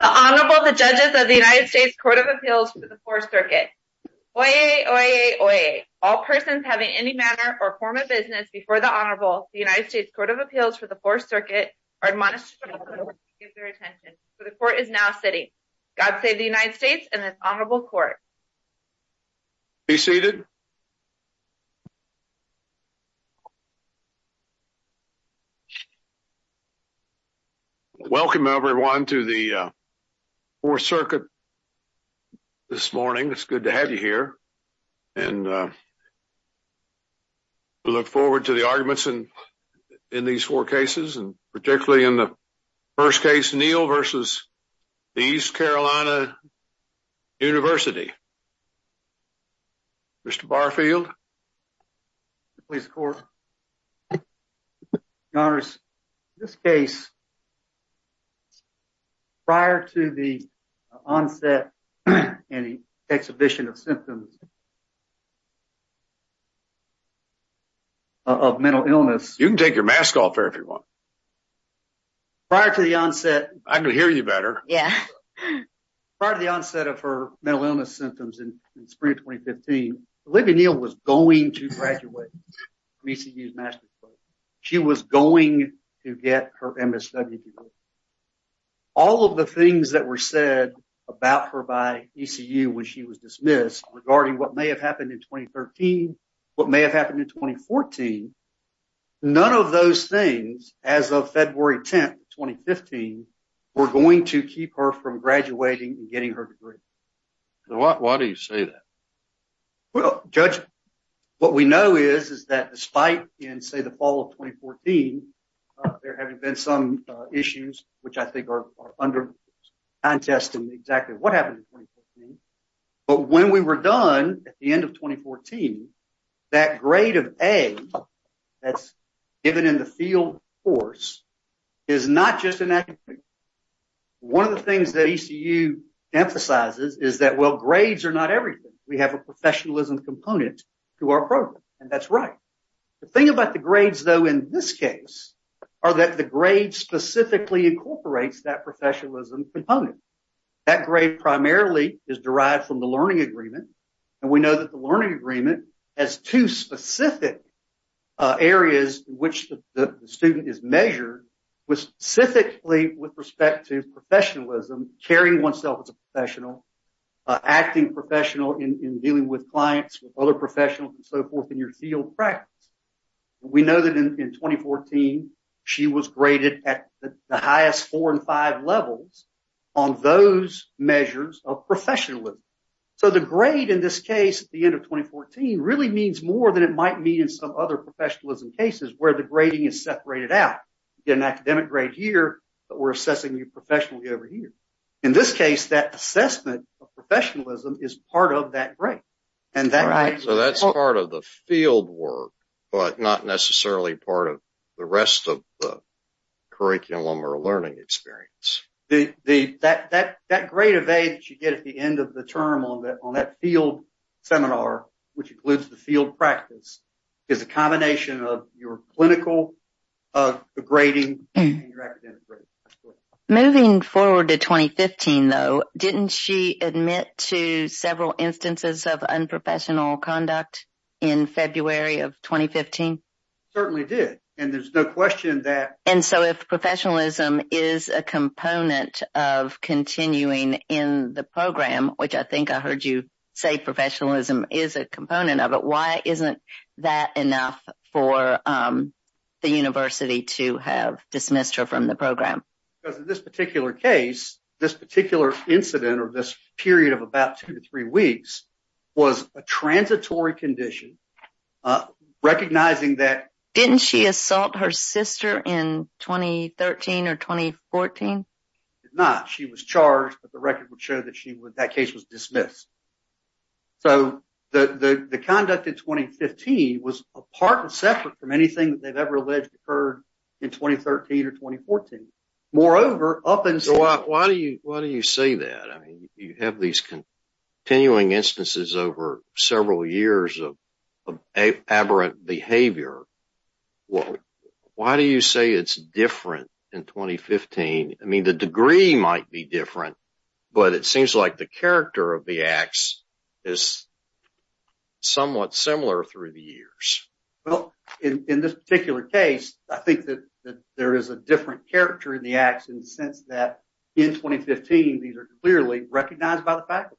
The Honorable, the judges of the United States Court of Appeals for the Fourth Circuit. Oyez! Oyez! Oyez! All persons having any manner or form of business before the Honorable, the United States Court of Appeals for the Fourth Circuit, are admonished to give their attention. The Court is now sitting. God save the United States and this Honorable Court. Be seated. Welcome, everyone, to the Fourth Circuit this morning. It's good to have you here. And we look forward to the arguments in these four cases, and particularly in the first case, Neal v. East Carolina University. Mr. Barfield. Please, Court. Your Honor, in this case, prior to the onset and exhibition of symptoms of mental illness... You can take your mask off if you want. Prior to the onset... I can hear you better. Yeah. Prior to the onset of her mental illness symptoms in the spring of 2015, Olivia Neal was going to graduate. She was going to get her MSW degree. All of the things that were said about her by ECU when she was dismissed regarding what may have happened in 2013, what may have happened in 2014, none of those things, as of February 10th, 2015, were going to keep her from graduating and getting her degree. Why do you say that? Well, Judge, what we know is, is that despite in, say, the fall of 2014, there having been some issues, which I think are under contesting exactly what happened in 2014, but when we were done at the end of 2014, that grade of A that's given in the field course is not just an accident. One of the things that ECU emphasizes is that, well, we have a professionalism component to our program, and that's right. The thing about the grades, though, in this case, are that the grade specifically incorporates that professionalism component. That grade primarily is derived from the learning agreement, and we know that the learning agreement has two specific areas in which the student is measured specifically with respect to professionalism, carrying oneself as a professional, acting professional in dealing with clients, with other professionals, and so forth in your field practice. We know that in 2014, she was graded at the highest four and five levels on those measures of professionalism. So the grade in this case at the end of 2014 really means more than it might mean in some other professionalism cases where the grading is separated out. You get an academic grade here, but we're assessing you professionally over here. In this case, that assessment of professionalism is part of that grade. So that's part of the field work, but not necessarily part of the rest of the curriculum or learning experience. That grade of A that you get at the end of the term on that field seminar, which includes the field practice, is a combination of your clinical grading and your academic grading. Moving forward to 2015, though, didn't she admit to several instances of unprofessional conduct in February of 2015? Certainly did, and there's no question that. And so if professionalism is a component of continuing in the program, which I think I heard you say professionalism is a component of it, why isn't that enough for the university to have dismissed her from the program? Because in this particular case, this particular incident or this period of about two to three weeks was a transitory condition recognizing that. Didn't she assault her sister in 2013 or 2014? She did not. She was charged, but the record would show that she would. That case was dismissed. So the conduct in 2015 was apart and separate from anything that they've ever alleged occurred in 2013 or 2014. Moreover, up until. Why do you say that? I mean, you have these continuing instances over several years of aberrant behavior. Why do you say it's different in 2015? I mean, the degree might be different, but it seems like the character of the acts is somewhat similar through the years. Well, in this particular case, I think that there is a different character in the acts in the sense that in 2015, these are clearly recognized by the faculty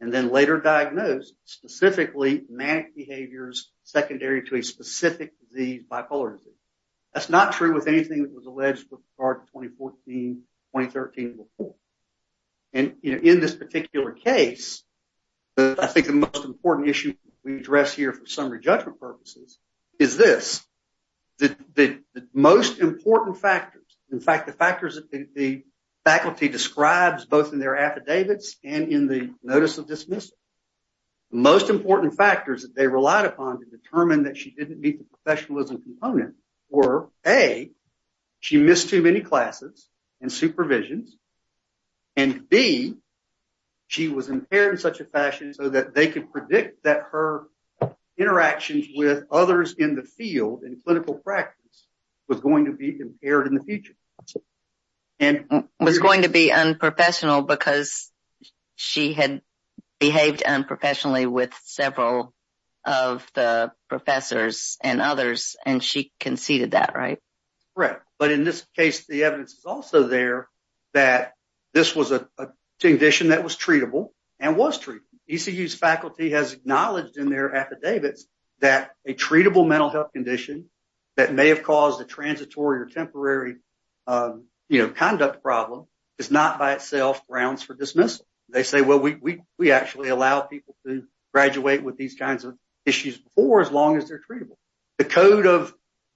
and then later diagnosed as specifically manic behaviors, secondary to a specific disease, bipolar disease. That's not true with anything that was alleged for 2014, 2013 before. And in this particular case, I think the most important issue we address here for summary judgment purposes is this, the most important factors. In fact, the factors that the faculty describes both in their affidavits and in the most important factors that they relied upon to determine that she didn't meet the professionalism component or a, she missed too many classes and supervisions. And B, she was impaired in such a fashion so that they could predict that her interactions with others in the field and clinical practice was going to be impaired in the future. And was going to be unprofessional because she had behaved unprofessionally with several of the professors and others. And she conceded that, right? Correct. But in this case, the evidence is also there that this was a condition that was treatable and was true. ECU faculty has acknowledged in their affidavits that a treatable mental health condition that may have caused a transitory or temporary, you know, conduct problem is not by itself grounds for dismissal. They say, well, we actually allow people to graduate with these kinds of issues for as long as they're treatable. The code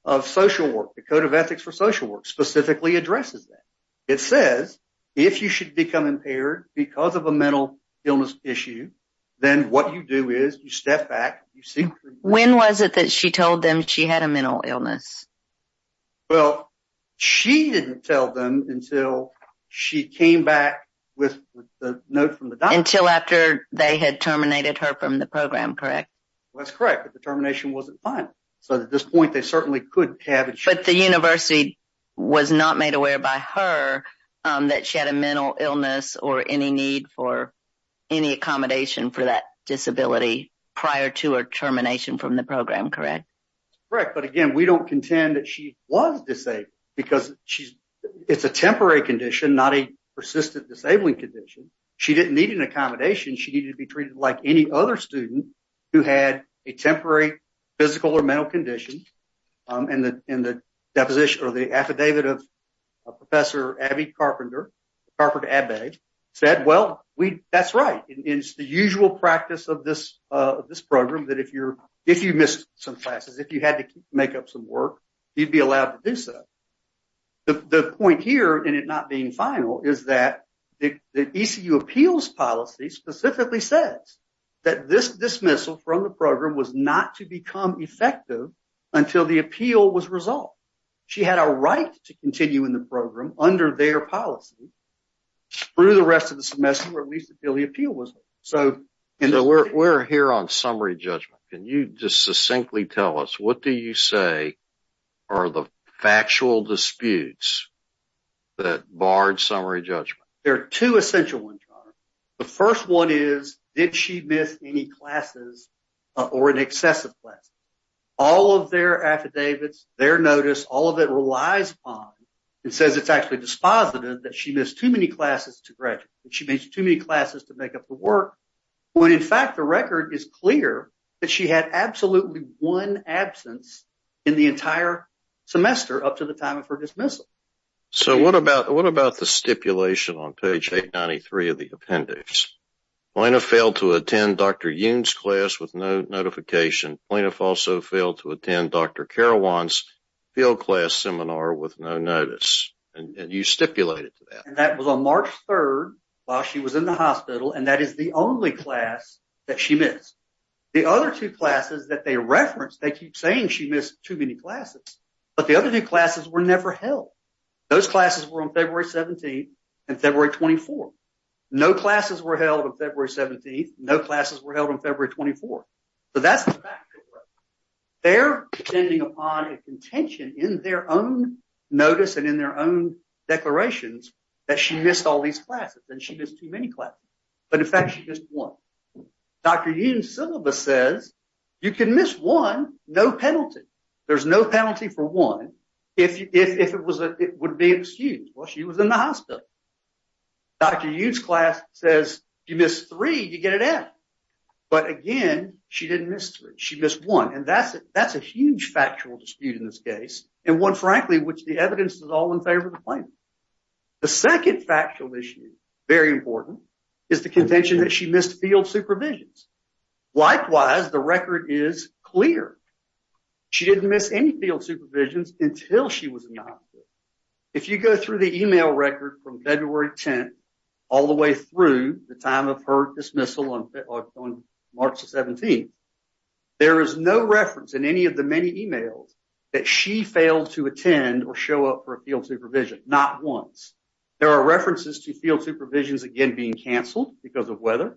of social work, the code of ethics for social work specifically addresses that. It says, if you should become impaired because of a mental illness issue, then what you do is you step back. When was it that she told them she had a mental illness? Well, she didn't tell them until she came back with the note from the doctor. Until after they had terminated her from the program, correct? That's correct. But the termination wasn't fine. So at this point they certainly could have. But the university was not made aware by her that she had a mental illness or any need for any accommodation for that disability prior to her termination from the program. Correct. Correct. But again, we don't contend that she was disabled because she's it's a temporary condition, not a persistent disabling condition. She didn't need an accommodation. She needed to be treated like any other student who had a temporary physical or mental condition. And the, and the deposition or the affidavit of a professor, Abby Carpenter, Carpenter Abbey said, well, we that's right. It's the usual practice of this, this program that if you're, if you missed some classes, if you had to make up some work, you'd be allowed to do so. The point here in it not being final is that the, the ECU appeals policy specifically says that this dismissal from the program was not to become effective until the appeal was resolved. She had a right to continue in the program under their policy through the rest of the semester, or at least until the appeal was. So we're here on summary judgment. Can you just succinctly tell us, what do you say are the factual disputes that barred summary judgment? There are two essential ones. The first one is, did she miss any classes or an excessive class? All of their affidavits, their notice, all of it relies on and says, it's actually dispositive that she missed too many classes to graduate. She makes too many classes to make up the work. When in fact, the record is clear that she had absolutely one absence in the entire semester up to the time of her dismissal. So what about, what about the stipulation on page 893 of the appendix? Plaintiff failed to attend Dr. Yoon's class with no notification. Plaintiff also failed to attend Dr. Carawan's field class seminar with no notice. And you stipulated to that. And that was on March 3rd while she was in the hospital. And that is the only class that she missed. The other two classes that they referenced, they keep saying she missed too many classes, but the other two classes were never held. Those classes were on February 17th and February 24th. No classes were held on February 17th. No classes were held on February 24th. So that's the fact. They're depending upon a contention in their own notice and in their own declarations that she missed all these classes and she missed too many classes. But in fact, she missed one. Dr. Yoon's syllabus says you can miss one, no penalty. There's no penalty for one. If it was, it would be excused while she was in the hospital. Dr. Yoon's class says you missed three, you get an F. But again, she didn't miss three. She missed one. And that's a huge factual dispute in this case. And one, frankly, which the evidence is all in favor of the plaintiff. The second factual issue, very important, is the contention that she missed field supervisions. Likewise, the record is clear. She didn't miss any field supervisions until she was in the hospital. If you go through the email record from February 10th all the way through the time of her dismissal on March 17th, there is no reference in any of the many emails that she failed to attend or show up for a field supervision. Not once. There are references to field supervisions again being canceled because of weather.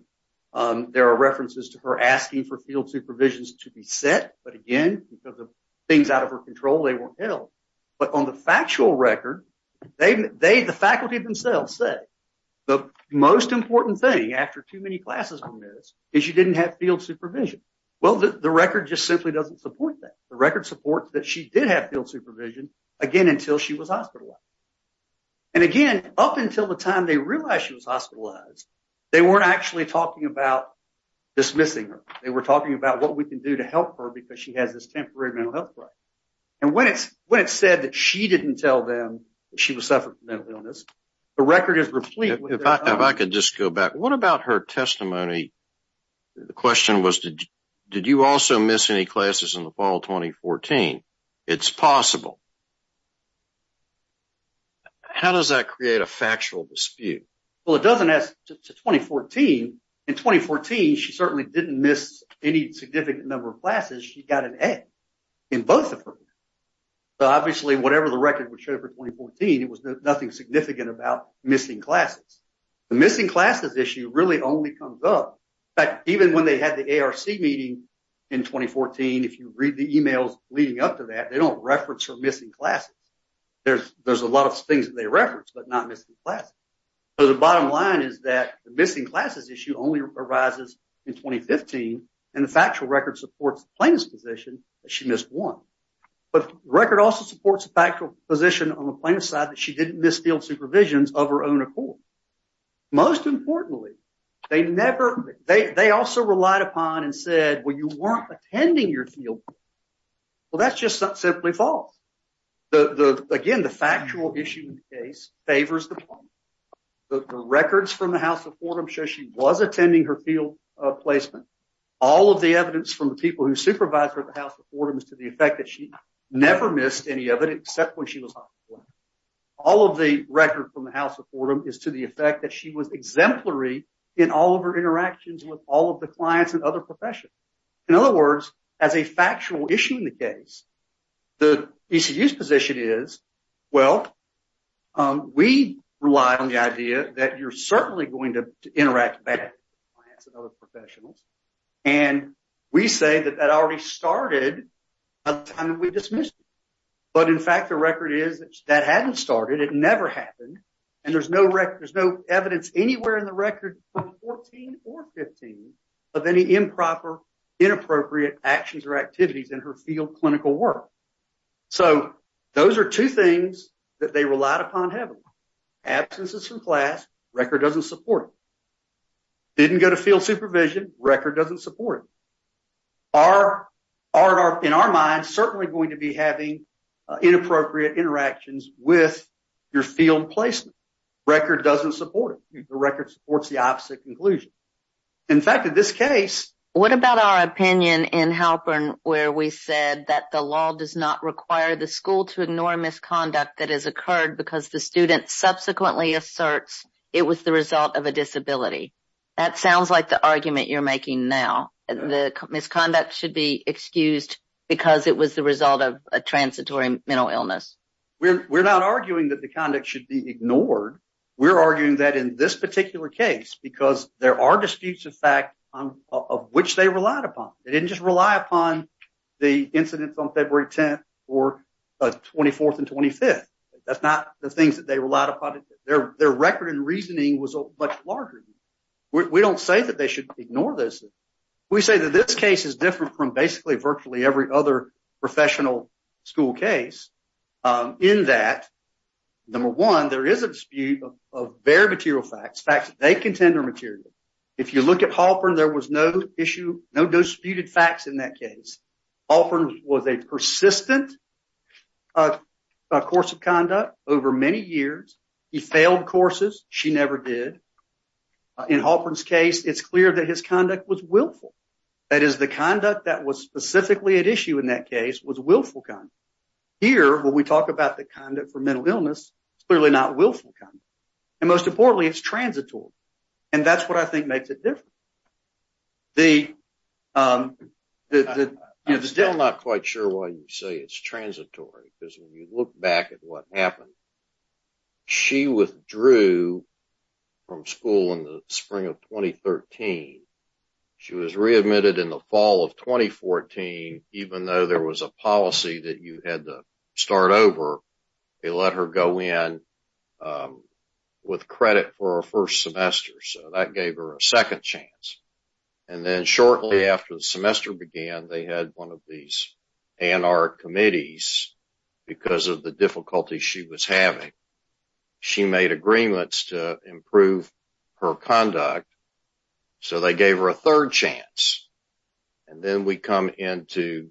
There are references to her asking for field supervisions to be set, but again, because of things out of her control, they weren't held. But on the factual record, the faculty themselves say the most important thing after too many classes were missed is she didn't have field supervision. Well, the record just simply doesn't support that. The record supports that she did have field supervision, again, until she was hospitalized. And again, up until the time they realized she was hospitalized, they weren't actually talking about dismissing her. They were talking about what we can do to help her because she has this temporary mental health crisis. And when it's said that she didn't tell them that she was suffering from mental illness, the record is replete. If I could just go back, what about her testimony? The question was, did you also miss any classes in the fall of 2014? It's possible. How does that create a factual dispute? Well, it doesn't ask to 2014. In 2014, she certainly didn't miss any significant number of classes. She got an A in both of her. So, obviously, whatever the record would show for 2014, it was nothing significant about missing classes. The missing classes issue really only comes up. In fact, even when they had the ARC meeting in 2014, if you read the emails leading up to that, they don't reference her missing classes. There's a lot of things that they reference, but not missing classes. So, the bottom line is that the missing classes issue only arises in 2015, and the factual record supports plaintiff's position that she missed one. But the record also supports the factual position on the plaintiff's side that she didn't miss field supervisions of her own accord. Most importantly, they also relied upon and said, well, you weren't attending your field. Well, that's just simply false. Again, the factual issue in the case favors the plaintiff. The records from the House of Fordham show she was attending her field placement. All of the evidence from the people who supervised her at the House of Fordham is to the effect that she never missed any of it, except when she was hospitalized. All of the record from the House of Fordham is to the effect that she was exemplary in all of her interactions with all of the clients and other professions. In other words, as a factual issue in the case, the ECU's position is, well, we rely on the idea that you're certainly going to interact back with clients and other professionals. And we say that that already started by the time that we dismissed her. But in fact, the record is that hadn't started. It never happened. And there's no record, there's no evidence anywhere in the record from 2014 or 2015 of any improper, inappropriate actions or activities in her field clinical work. So those are two things that they relied upon heavily. Absences from class, record doesn't support it. Didn't go to field supervision, record doesn't support it. In our minds, certainly going to be having inappropriate interactions with your field placement. Record doesn't support it. The record supports the opposite conclusion. In fact, in this case. What about our opinion in Halpern, where we said that the law does not require the school to ignore misconduct that has occurred because the student subsequently asserts it was the result of a disability. That sounds like the argument you're making now. The misconduct should be excused because it was the result of a transitory mental illness. We're not arguing that the conduct should be ignored. We're arguing that in this particular case, because there are disputes of fact of which they relied upon. They didn't just rely upon the incidents on February 10th or 24th and 25th. That's not the things that they relied upon. Their record and reasoning was much larger. We don't say that they should ignore this. We say that this case is different from basically virtually every other professional school case in that number one, there is a dispute of bare material facts. Facts that they contend are material. If you look at Halpern, there was no issue, no disputed facts in that case. Halpern was a persistent course of conduct over many years. He failed courses. She never did. In Halpern's case, it's clear that his conduct was willful. That is the conduct that was specifically at issue in that case was willful conduct. Here, when we talk about the conduct for mental illness, it's clearly not willful conduct. Most importantly, it's transitory. That's what I think makes it different. I'm still not quite sure why you say it's transitory, because when you look back at what happened, she withdrew from school in the spring of 2013. She was readmitted in the fall of 2014, even though there was a policy that you had to start over. They let her go in with credit for her first semester, so that gave her a second chance. Then shortly after the semester began, they had one of these anarchy committees because of the difficulty she was having. She made agreements to improve her conduct, so they gave her a third chance. Then we come into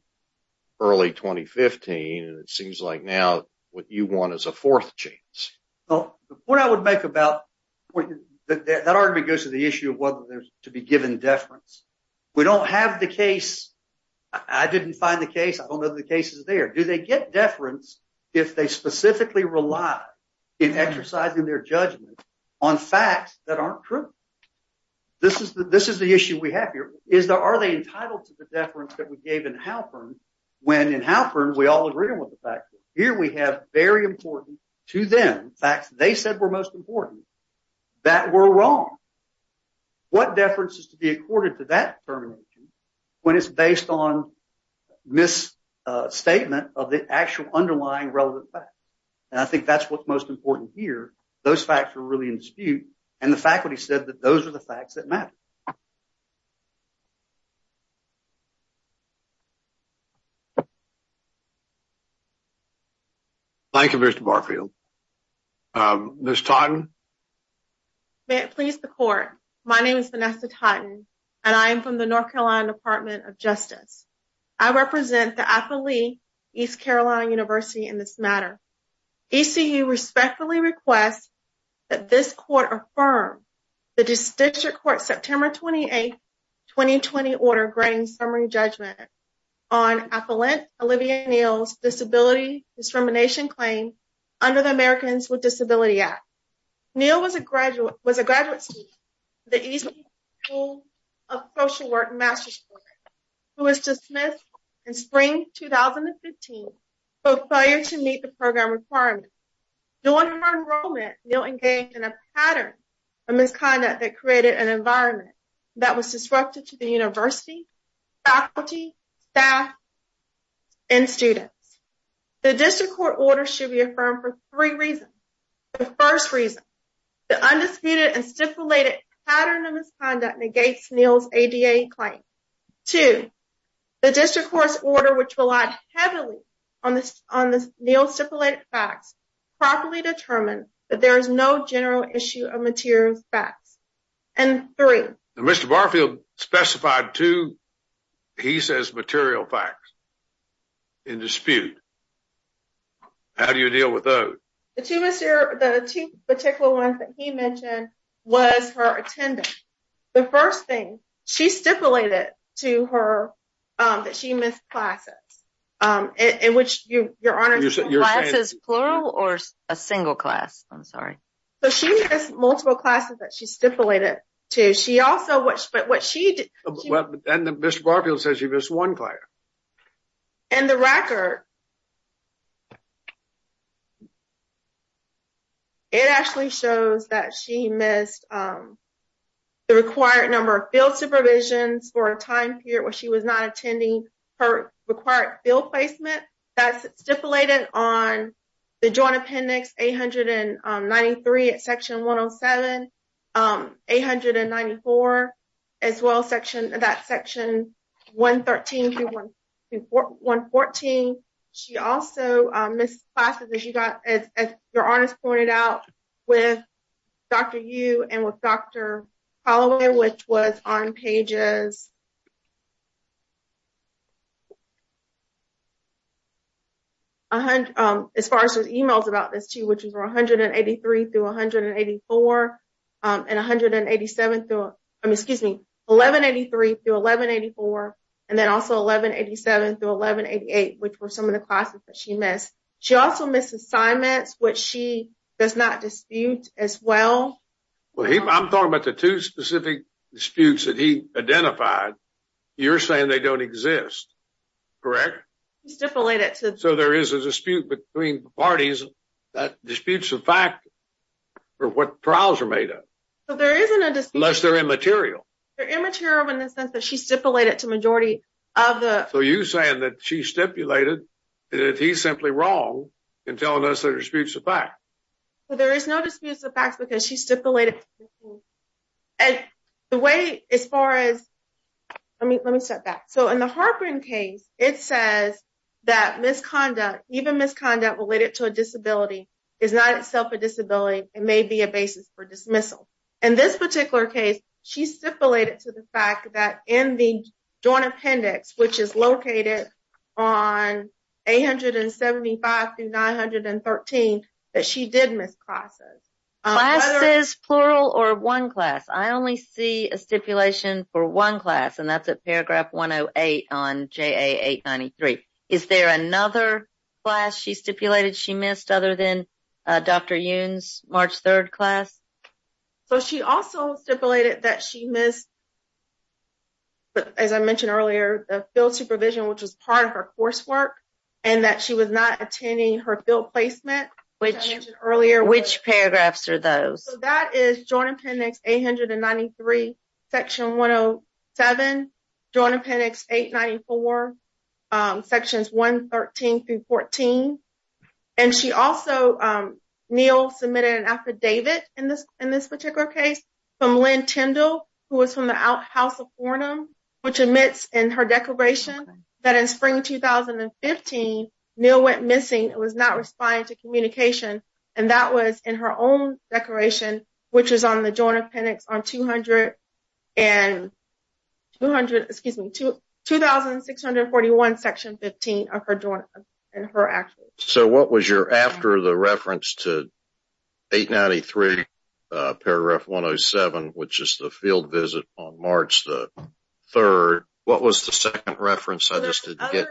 early 2015, and it seems like now what you want is a fourth chance. The point I would make about that argument goes to the issue of whether there's to be given deference. We don't have the case. I didn't find the case. I don't know if the case is there. Do they get deference if they specifically rely in exercising their judgment on facts that aren't true? This is the issue we have here. Are they entitled to the deference that we gave in Halpern, when in Halpern we all agree on what the fact is? Here we have very important to them facts they said were most important that were wrong. What deference is to be accorded to that termination when it's based on misstatement of the actual underlying relevant facts? I think that's what's most important here. Those facts are really in dispute, and the faculty said that those are the facts that matter. Thank you. Thank you, Mr. Barfield. Ms. Totten? May it please the court. My name is Vanessa Totten, and I am from the North Carolina Department of Justice. I represent the athlete East Carolina University in this matter. ECU respectfully requests that this court affirm the district court September 28th, 2020, order granting summary judgment on Affluent Olivia Neal's disability discrimination claim under the Americans with Disability Act. Neal was a graduate student at the East Carolina School of Social Work master's program, who was dismissed in spring 2015 for failure to meet the program requirements. During her enrollment, Neal engaged in a pattern of misconduct that created an environment that was disrupted to the university, faculty, staff, and students. The district court order should be affirmed for three reasons. The first reason, the undisputed and stipulated pattern of misconduct negates Neal's ADA claim. Two, the district court's order, which relied heavily on Neal's stipulated facts, properly determined that there is no general issue of material facts. And three. Mr. Barfield specified two, he says material facts in dispute. How do you deal with those? The two particular ones that he mentioned was her attendance. The first thing she stipulated to her that she missed classes, in which your honors is plural or a single class. I'm sorry. So she has multiple classes that she stipulated to. She also, which, but what she did, and Mr. Barfield says you missed one class. And the record. It actually shows that she missed the required number of field placements. as you can see here, this is provisions for a time period where she was not attending. Her required field placement. That's stipulated on. The joint appendix, 893 at section 1 0 7. 894. As well, section that section. 113. 114. She also missed classes that you got. As your honors pointed out with. Dr, you and with Dr. Holloway, which was on pages. As far as emails about this, too, which is 183 through 184. And 187, excuse me, 1183 to 1184. And then also 1187 to 1188, which were some of the classes that she missed. She also missed assignments, which she does not dispute as well. Well, I'm talking about the two specific disputes that he identified. You're saying they don't exist. Correct. So there is a dispute between parties. Disputes of fact. For what trials are made up. So there isn't a list. They're immaterial. They're immature in the sense that she stipulated to majority. So you saying that she stipulated that he's simply wrong. And telling us that disputes of fact. Well, there is no disputes of facts because she stipulated. And the way, as far as. I mean, let me start back. So in the heartburn case, it says that misconduct, even misconduct related to a disability is not itself a disability. It may be a basis for dismissal. And this particular case, She stipulated to the fact that in the. Don't appendix, which is located on 875 through 913. That she did miss classes. Class says plural or 1 class. I only see a stipulation for 1 class and that's a paragraph. 108 on J 893. Is there another class? She stipulated she missed other than. Dr. 3rd class. So, she also stipulated that she missed. But as I mentioned earlier, the field supervision, which was part of our coursework, and that she was not attending her field placement, which earlier, which paragraphs are those that is joined appendix 893. Section 107. Join appendix 894. Sections 113 through 14. And she also. Neal submitted an affidavit in this, in this particular case. From Lynn Tyndall, who was from the house of. Which admits in her declaration that in spring 2015, Neil went missing. It was not responding to communication. And that was in her own decoration, which is on the join appendix on 200. And. 200 excuse me, to 2,641, section 15 of her and her actually. So, what was your after the reference to. 893 paragraph 107, which is the field visit on March the. 3rd, what was the 2nd reference? I just didn't get.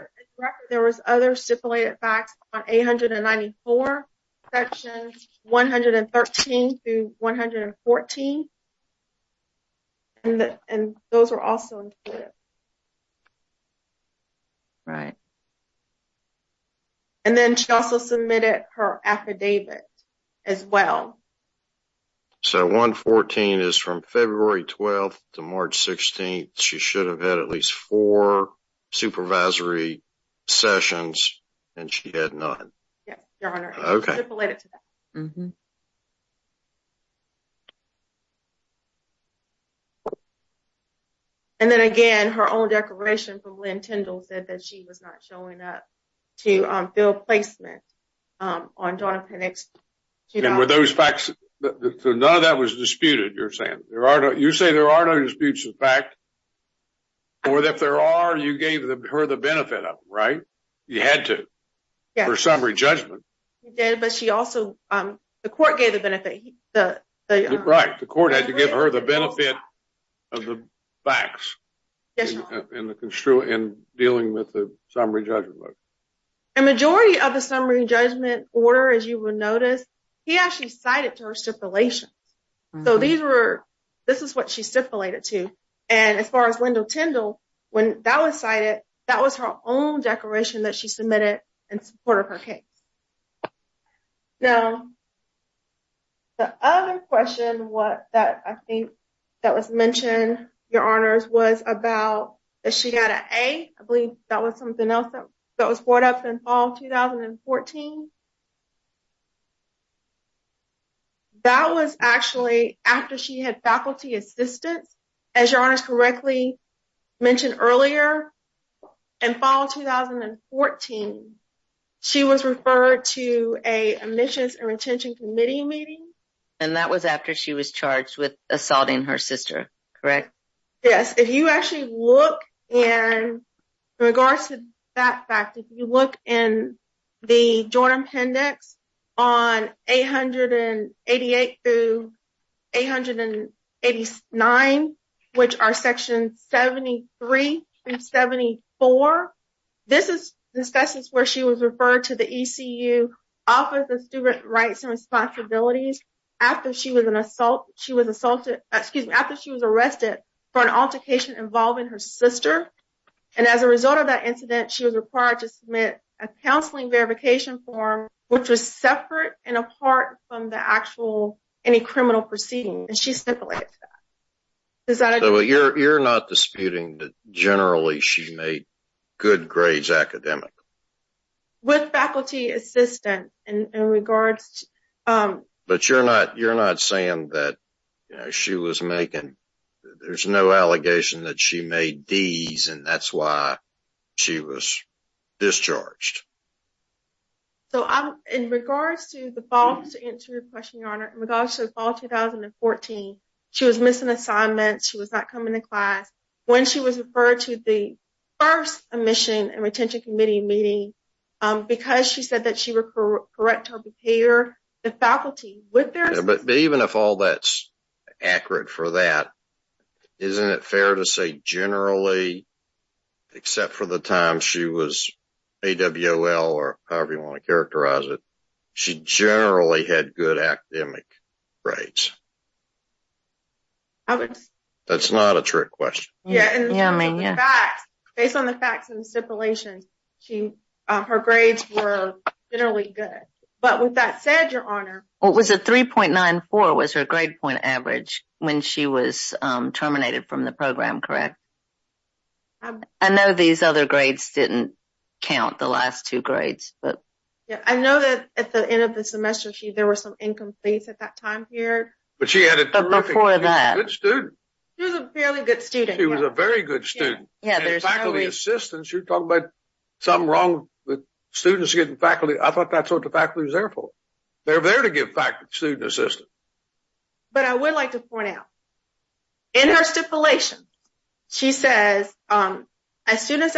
There was other stipulated facts on 894. Section 113 to 114. And those are also. Right. And then she also submitted her affidavit. As well. So, 114 is from February 12th to March 16th. She should have had at least 4. Supervisory sessions. And she had not. Okay. And then again, her own declaration from Lynn Tyndall said that she was not showing up. To build placement. On Donna. And with those facts, none of that was disputed. You're saying there are no, you say there are no disputes in fact. Or if there are, you gave her the benefit of right. You had to. Yeah, or summary judgment. Yeah, but she also, the court gave the benefit. The right, the court had to give her the benefit. Of the facts. In the construing and dealing with the summary judgment. A majority of the summary judgment order, as you will notice. He actually cited to her stipulations. So these were. This is what she stipulated to. And as far as Linda Tyndall. When that was cited, that was her own declaration that she submitted. In support of her case. Now. The other question was that I think. That was mentioned your honors was about. She got a, I believe that was something else that was brought up in fall 2014. That was actually after she had faculty assistance. As your honors correctly. Mentioned earlier in fall 2014. She was referred to a admissions and retention committee meeting. And that was after she was charged with assaulting her sister. Correct. Yes. If you actually look. And. In regards to that fact, if you look in. The Jordan appendix. On 888 through. 889, which are section 73 and 74. This is this is where she was referred to the office of student rights and responsibilities. After she was an assault, she was assaulted after she was arrested. For an altercation involving her sister. And as a result of that incident, she was required to submit a counseling verification form. Which was separate and apart from the actual any criminal proceeding. And she simply. Is that you're not disputing that generally she's made. Good grades academic. With faculty assistant in regards. But you're not you're not saying that. She was making. There's no allegation that she made these and that's why. She was discharged. So, I'm in regards to the fall to answer your question, your honor. I'm in regards to the fall 2014. She was missing assignments. She was not coming to class. When she was referred to the. 1st, a mission and retention committee meeting. Because she said that she were correct to prepare the faculty. But even if all that's. Accurate for that. Isn't it fair to say generally. Except for the time she was. Or however you want to characterize it. She generally had good academic. Right. That's not a trick question. Yeah. Based on the facts and stipulations. Her grades were generally good. But with that said, your honor. It was a 3.94 was her grade point average. When she was terminated from the program. Correct. I know these other grades didn't. Count the last 2 grades, but. Yeah, I know that at the end of the semester, she, there were some incomplete at that time here. But she had a good student. He was a fairly good student. He was a very good student. Yeah, there's faculty assistance. You're talking about. Something wrong with students getting faculty. I thought that's what the faculty was there for. They're there to give faculty student assistance. But I would like to point out. In her stipulation. She says, as soon as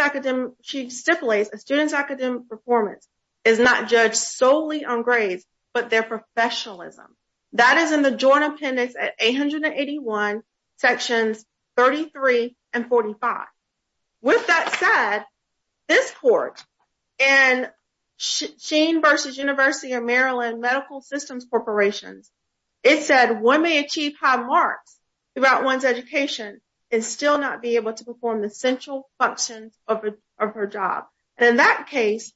she stipulates a student's academic performance. Is not judged solely on grades, but their professionalism. That is in the joint appendix at 881. Sections, 33 and 45. With that said. This court and. Shane versus University of Maryland medical systems corporations. It said 1 may achieve high marks throughout 1's education. And still not be able to perform the central functions of her job. And in that case,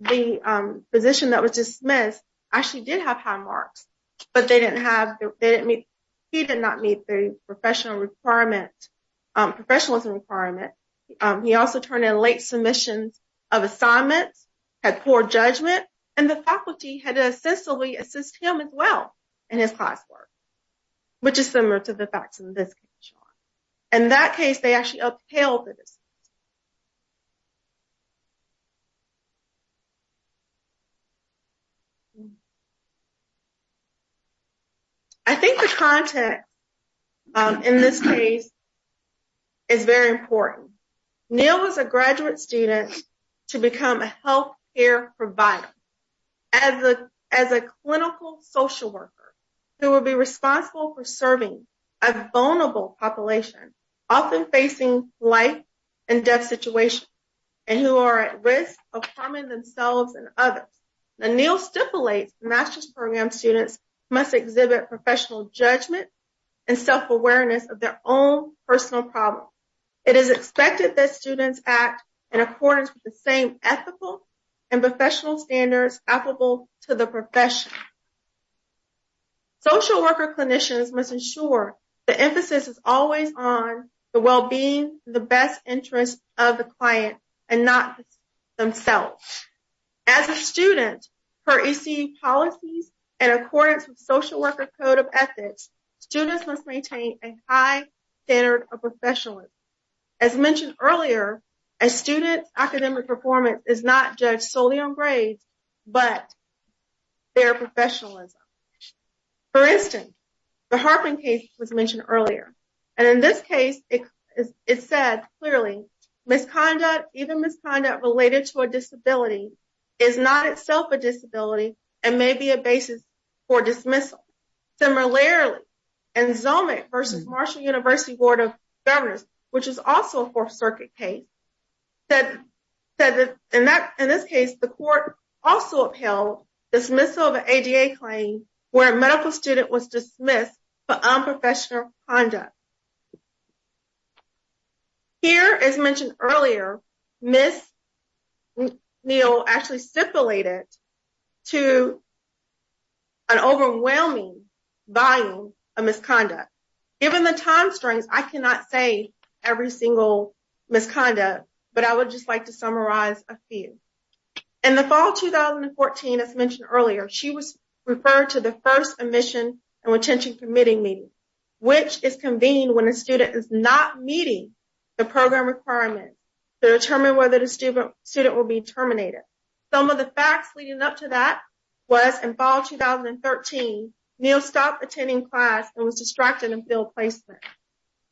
the position that was dismissed. I actually did have high marks, but they didn't have, they didn't meet. He did not meet the professional requirement. Professionalism requirement. He also turned in late submissions of assignments. And the faculty had a system as well. And his classwork, which is similar to the facts in this. And that case, they actually upheld it. I think the content. In this case. It's very important. I'm going to read this. Neil was a graduate student. To become a health care provider. As a, as a clinical social worker. Who will be responsible for serving. A vulnerable population. Often facing life. And death situation. And who are at risk of harming themselves and others. And Neil stipulates masters program. Students must exhibit professional judgment. And self-awareness of their own personal problem. It is expected that students act. In accordance with the same ethical. And professional standards applicable to the profession. Social worker clinicians must ensure. The emphasis is always on the wellbeing. The best interest of the client. And not themselves. As a student. As mentioned earlier. As students, academic performance is not judged solely on grades. But. They're professionalism. For instance. The Harping case was mentioned earlier. And in this case, it. It said clearly. Misconduct, even misconduct related to a disability. Is not itself a disability. And maybe a basis. For dismissal. Similarly. And. Versus Marshall university board of. Which is also a 4th circuit case. That said that in that, in this case, the court. Also upheld dismissal of a claim. Where a medical student was dismissed. But I'm professional conduct. Here is mentioned earlier. Miss. Neil actually stipulated. To. An overwhelming volume of misconduct. Given the time strings, I cannot say every single. Misconduct, but I would just like to summarize a few. And the fall 2014, as mentioned earlier, she was. Referred to the 1st admission and retention permitting meeting. Which is convened when a student is not meeting. The program requirement. To determine whether the student student will be terminated. Some of the facts leading up to that. Was involved 2013. Neil stopped attending class and was distracted and build placement.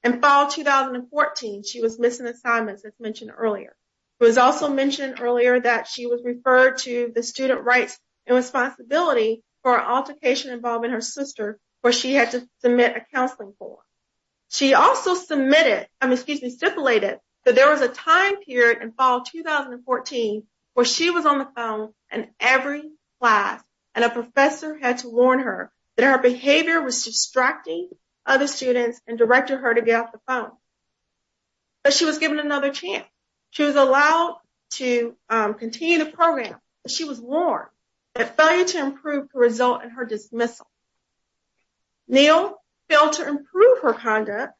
And fall 2014, she was missing assignments as mentioned earlier. It was also mentioned earlier that she was referred to the student rights. And responsibility for altercation involving her sister. Where she had to submit a counseling for. She also submitted. I'm excuse me stipulated that there was a time period and fall 2014. Where she was on the phone and every class. And a professor had to warn her. That her behavior was distracting. Other students and directed her to get off the phone. But she was given another chance. She was allowed to continue the program. She was warned. To improve the result and her dismissal. Neil. Fail to improve her conduct.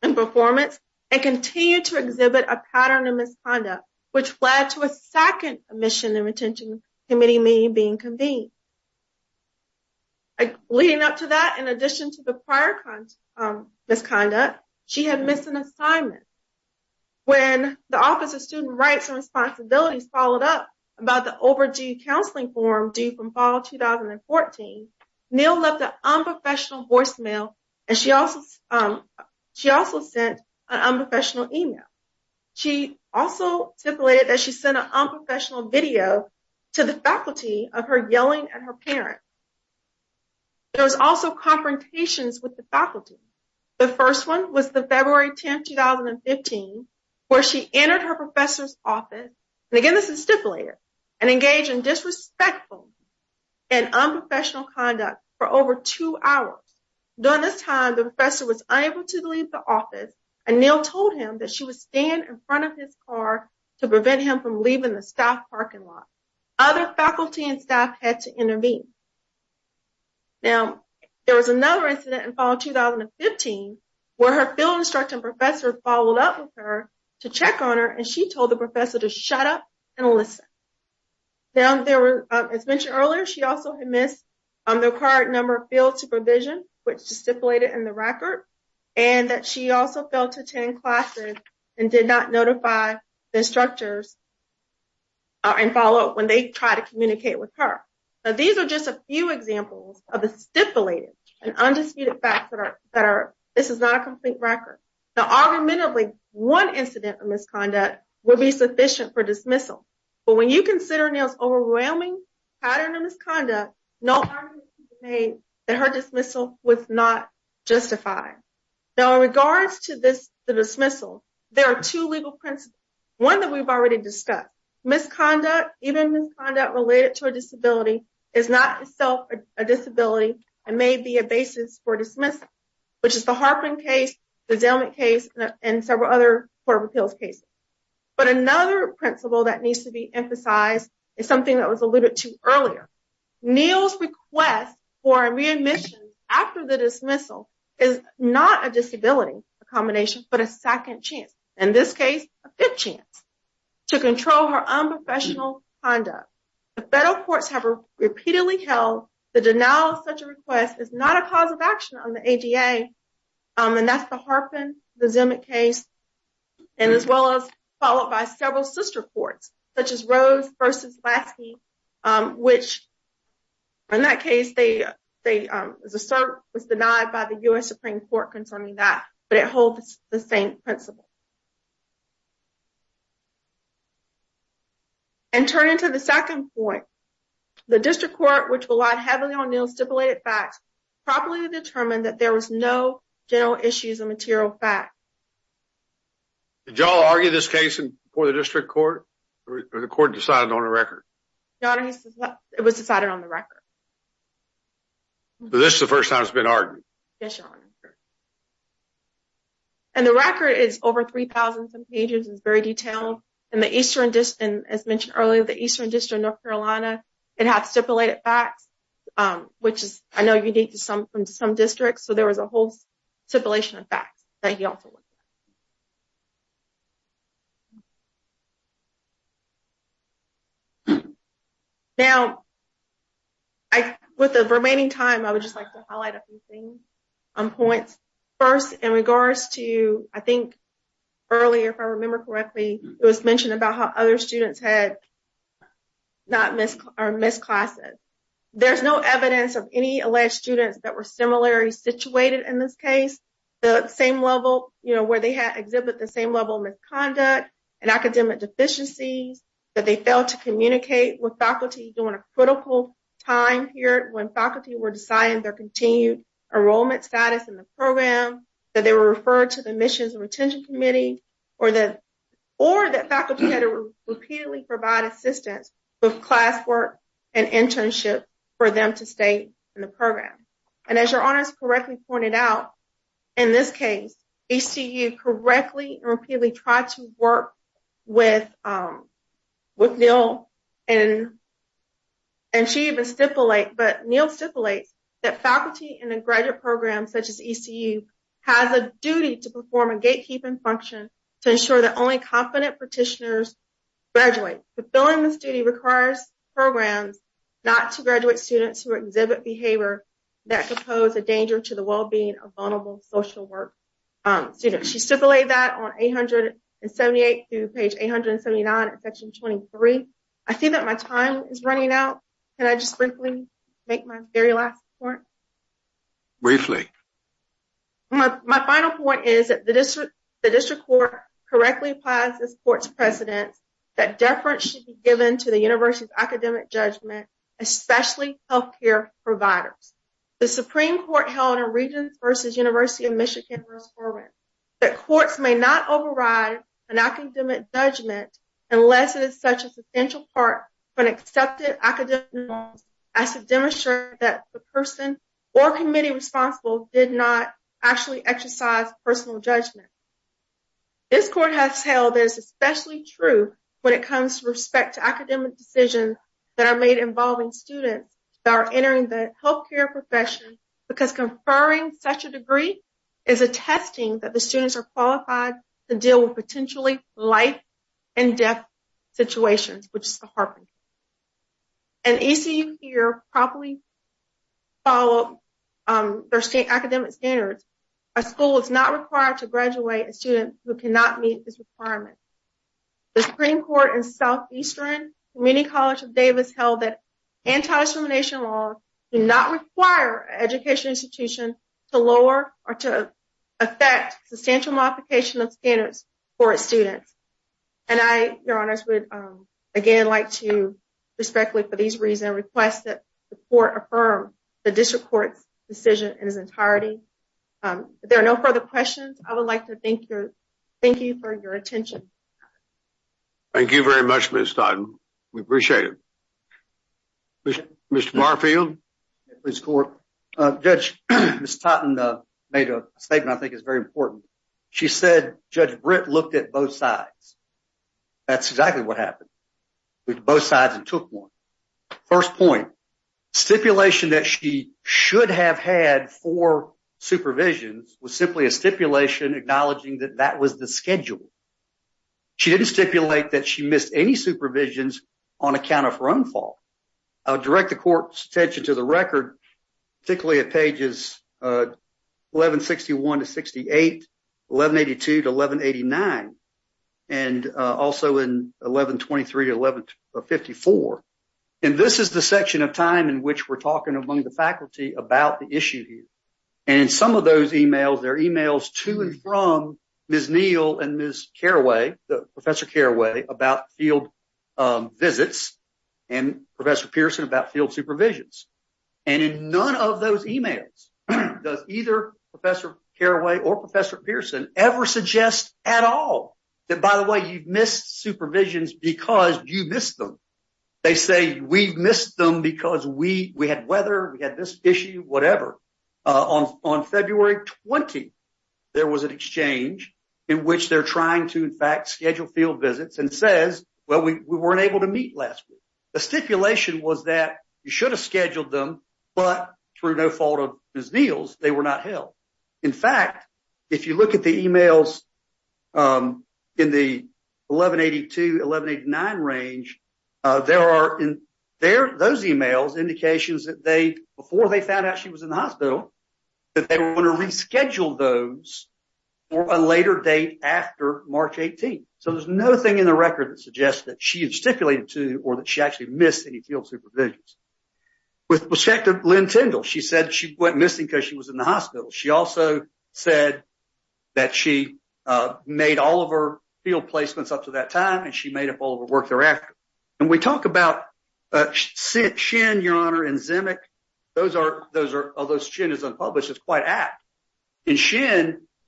And performance. And continue to exhibit a pattern of misconduct. Which led to a 2nd mission and retention. Committee meeting being convened. Leading up to that, in addition to the prior. This kind of, she had missing assignment. When the office of student rights and responsibilities followed up. About the overdue counseling form due from fall 2014. Neil left the unprofessional voicemail. And she also, she also sent. An unprofessional email. She also stipulated that she sent an unprofessional video. To the faculty of her yelling at her parents. There was also confrontations with the faculty. The 1st, 1 was the February 10th, 2015. Where she entered her professor's office. And again, this is stipulated. And engage in disrespectful. And unprofessional conduct for over 2 hours. During this time, the professor was able to leave the office. And Neil told him that she was staying in front of his car. To prevent him from leaving the staff parking lot. Other faculty and staff had to intervene. Now, there was another incident in fall 2015. Where her field instructing professor followed up with her. To check on her, and she told the professor to shut up. And listen. Now, there were, as mentioned earlier, she also had missed. On the card number field supervision. Which stipulated in the record. And that she also fell to 10 classes. And did not notify the instructors. And follow up when they try to communicate with her. Now, these are just a few examples of the stipulated. And undisputed facts that are, this is not a complete record. Now, argumentatively, one incident of misconduct. Would be sufficient for dismissal. But when you consider Neil's overwhelming pattern of misconduct. No argument can be made that her dismissal was not justified. Now, in regards to this, the dismissal. There are two legal principles. One that we've already discussed. Misconduct, even misconduct related to a disability. Is not itself a disability. And may be a basis for dismissal. Which is the Harpin case, the Zellman case. And several other court of appeals cases. But another principle that needs to be emphasized. Is something that was alluded to earlier. Neil's request for a readmission after the dismissal. Is not a disability. A combination, but a second chance. In this case, a fifth chance. To control her unprofessional conduct. The federal courts have repeatedly held. The denial of such a request is not a cause of action on the ADA. And that's the Harpin, the Zellman case. And as well as followed by several sister courts. Such as Rose versus Lasky. Which, in that case, they. Was denied by the U.S. Supreme Court concerning that. But it holds the same principle. And turn into the second point. The district court, which relied heavily on Neil stipulated facts. Properly determined that there was no. General issues and material facts. Did y'all argue this case and for the district court. The court decided on a record. It was decided on the record. This is the first time it's been argued. And the record is oversight. It's very detailed. And the eastern distance, as mentioned earlier, the eastern district, North Carolina. And have stipulated facts. Which is, I know you need to some from some districts. So there was a whole. Stipulation of facts. Now. With the remaining time, I would just like to highlight a few things. First, in regards to, I think. Earlier, if I remember correctly, it was mentioned about how other students had. Not miss or miss classes. There's no evidence of any alleged students that were similar. Situated in this case. The same level where they had exhibit the same level misconduct. And academic deficiencies. That they failed to communicate with faculty doing a critical. Time here when faculty were deciding their continued. Enrollment status in the program that they were referred to the missions. And retention committee, or the. Or that faculty repeatedly provide assistance. With classwork and internship for them to stay. In the program, and as your honors correctly pointed out. In this case, you see you correctly repeatedly. Try to work with. With bill and. And she even stipulate, but Neil stipulates. That faculty in a graduate program, such as. Has a duty to perform a gatekeeping function. To ensure that only competent petitioners. Gradually fulfilling this duty requires programs. Not to graduate students who exhibit behavior. That could pose a danger to the well, being a vulnerable social work. She stipulated that on 878. Page 879 section 23. I think that my time is running out. And I just quickly make my very last point. Briefly. My final point is that the district. Correctly applies this court's precedents. That difference should be given to the university's academic judgment. Especially health care providers. The Supreme court held a region versus University of Michigan. That courts may not override. And I can do it judgment. Unless it is such as essential part, but accepted. I could demonstrate that the person. Or committee responsible did not actually exercise personal judgment. This court has held is especially true. When it comes to respect to academic decisions. That are made involving students that are entering the health care profession. Because conferring such a degree. Is a testing that the students are qualified to deal with potentially. Life and death situations, which is the heart. And easy here properly. Follow their state academic standards. A school is not required to graduate a student who cannot meet this requirement. The Supreme court and Southeastern community college of Davis held that. Anti-discrimination law. Do not require education institution to lower or to. Effect substantial modification of standards. For students. And I, your honors would again, like to. Respectfully for these reason requests that. The district court decision in his entirety. There are no further questions. I would like to thank you. Thank you for your attention. Thank you very much. We appreciate it. Mr. Barfield. Judge. Made a statement. I think it's very important. She said, judge Brit looked at both sides. That's exactly what happened. With both sides and took one. First point. Stipulation that she should have had for supervision. Was simply a stipulation acknowledging that that was the schedule. She didn't stipulate that she missed any supervisions. On account of her own fault. I'll direct the court's attention to the record. Particularly at pages. 1161 to 68. 1182 to 1189. And also in 1123 to 1154. And this is the section of time in which we're talking among the faculty about the issue. And some of those emails, their emails to and from. Ms. Neal and Ms. Carraway. Professor Carraway about field. Visits. And professor Pearson about field supervisions. And in none of those emails. Does either professor Carraway or professor Pearson ever suggest at all. That, by the way, you've missed supervisions because you missed them. They say we've missed them because we, we had weather. We had this issue, whatever. On February 20. There was an exchange. In which they're trying to, in fact, schedule field visits and says, well, we weren't able to meet last week. The stipulation was that you should have scheduled them. But through no fault of his meals, they were not held. In fact, if you look at the emails. In the 1182 1189 range. There are in there. Those emails indications that they before they found out she was in the hospital. That they were going to reschedule those. Or a later date after March 18. So there's no thing in the record that suggests that she is stipulated to, or that she actually missed any field supervisions. With perspective, Lynn Tyndall. She said she went missing because she was in the hospital. She also said. That she made all of her field placements up to that time. And she made up all of the work thereafter. And we talk about. Your honor and. Those are, those are all those chin is unpublished. It's quite apt. He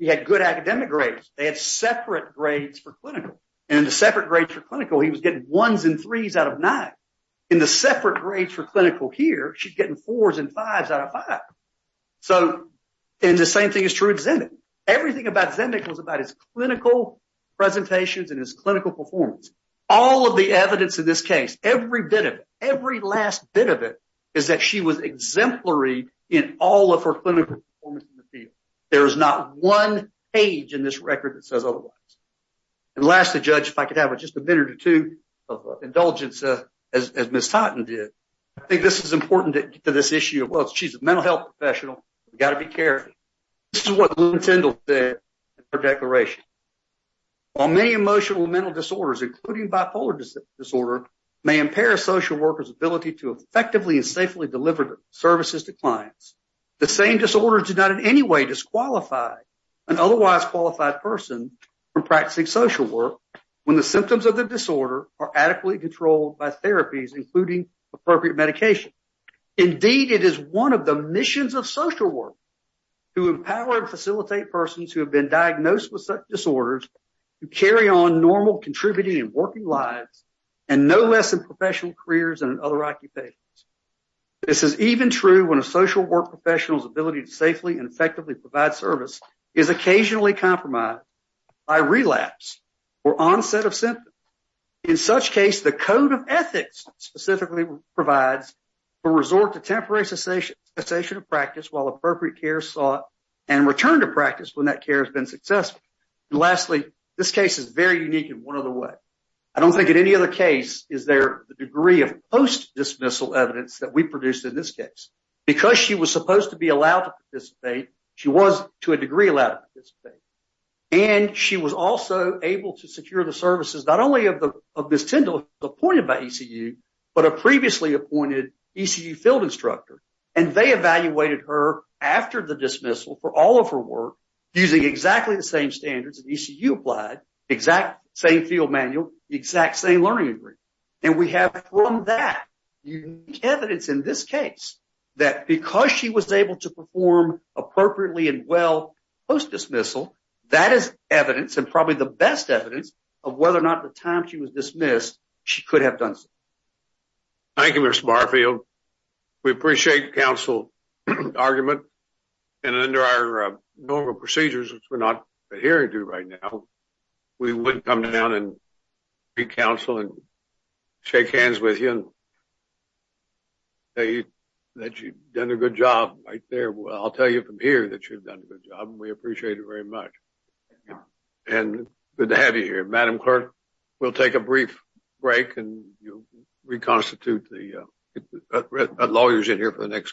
had good academic grades. They had separate grades for clinical. And the separate grades for clinical. He was getting ones and threes out of nine. In the separate grades for clinical here. She's getting fours and fives out of five. So. And the same thing is true. Everything about. Clinical presentations and his clinical performance. All of the evidence in this case. Every bit of it. Every last bit of it. Is that she was exemplary. In all of her clinical. There is not one. Age in this record that says otherwise. And lastly, judge, if I could have just a minute or two. Of indulgence. As Ms. I think this is important to this issue. She's a mental health professional. We've got to be careful. This is what. Her declaration. On many emotional mental disorders, including bipolar disorder. May impair a social worker's ability to effectively and safely deliver. Services to clients. The same disorder did not in any way disqualify. An otherwise qualified person. From practicing social work. When the symptoms of the disorder are adequately controlled by therapies. Including appropriate medication. Indeed, it is 1 of the missions of social work. To empower and facilitate persons who have been diagnosed with such disorders. You carry on normal contributing and working lives. And no less than professional careers and other occupations. This is even true when a social work professionals ability to safely and effectively provide service. Is occasionally compromised. I relapse. Or onset of symptoms. In such case, the code of ethics. Specifically provides. A resort to temporary cessation. A session of practice while appropriate care sought. And return to practice when that care has been successful. Lastly, this case is very unique in 1 other way. I don't think in any other case. Is there the degree of post dismissal evidence that we produced in this case? Because she was supposed to be allowed to participate. She was to a degree allowed to participate. And she was also able to secure the services. Not only of the. Appointed by ECU. But a previously appointed ECU field instructor. And they evaluated her. After the dismissal for all of her work. Using exactly the same standards and ECU applied. Exact same field manual. Exact same learning. And we have from that. Evidence in this case. That because she was able to perform appropriately and well. Post dismissal. That is evidence and probably the best evidence. Of whether or not the time she was dismissed. She could have done. Thank you, Mr. Barfield. We appreciate counsel. Argument. And under our normal procedures, which we're not. A hearing to right now. We wouldn't come down and. Be counseling. Shake hands with him. That you've done a good job right there. Well, I'll tell you from here that you've done a good job and we appreciate it very much. And good to have you here. Madam clerk. We'll take a brief. Break and you'll reconstitute the. Lawyers in here for the next case.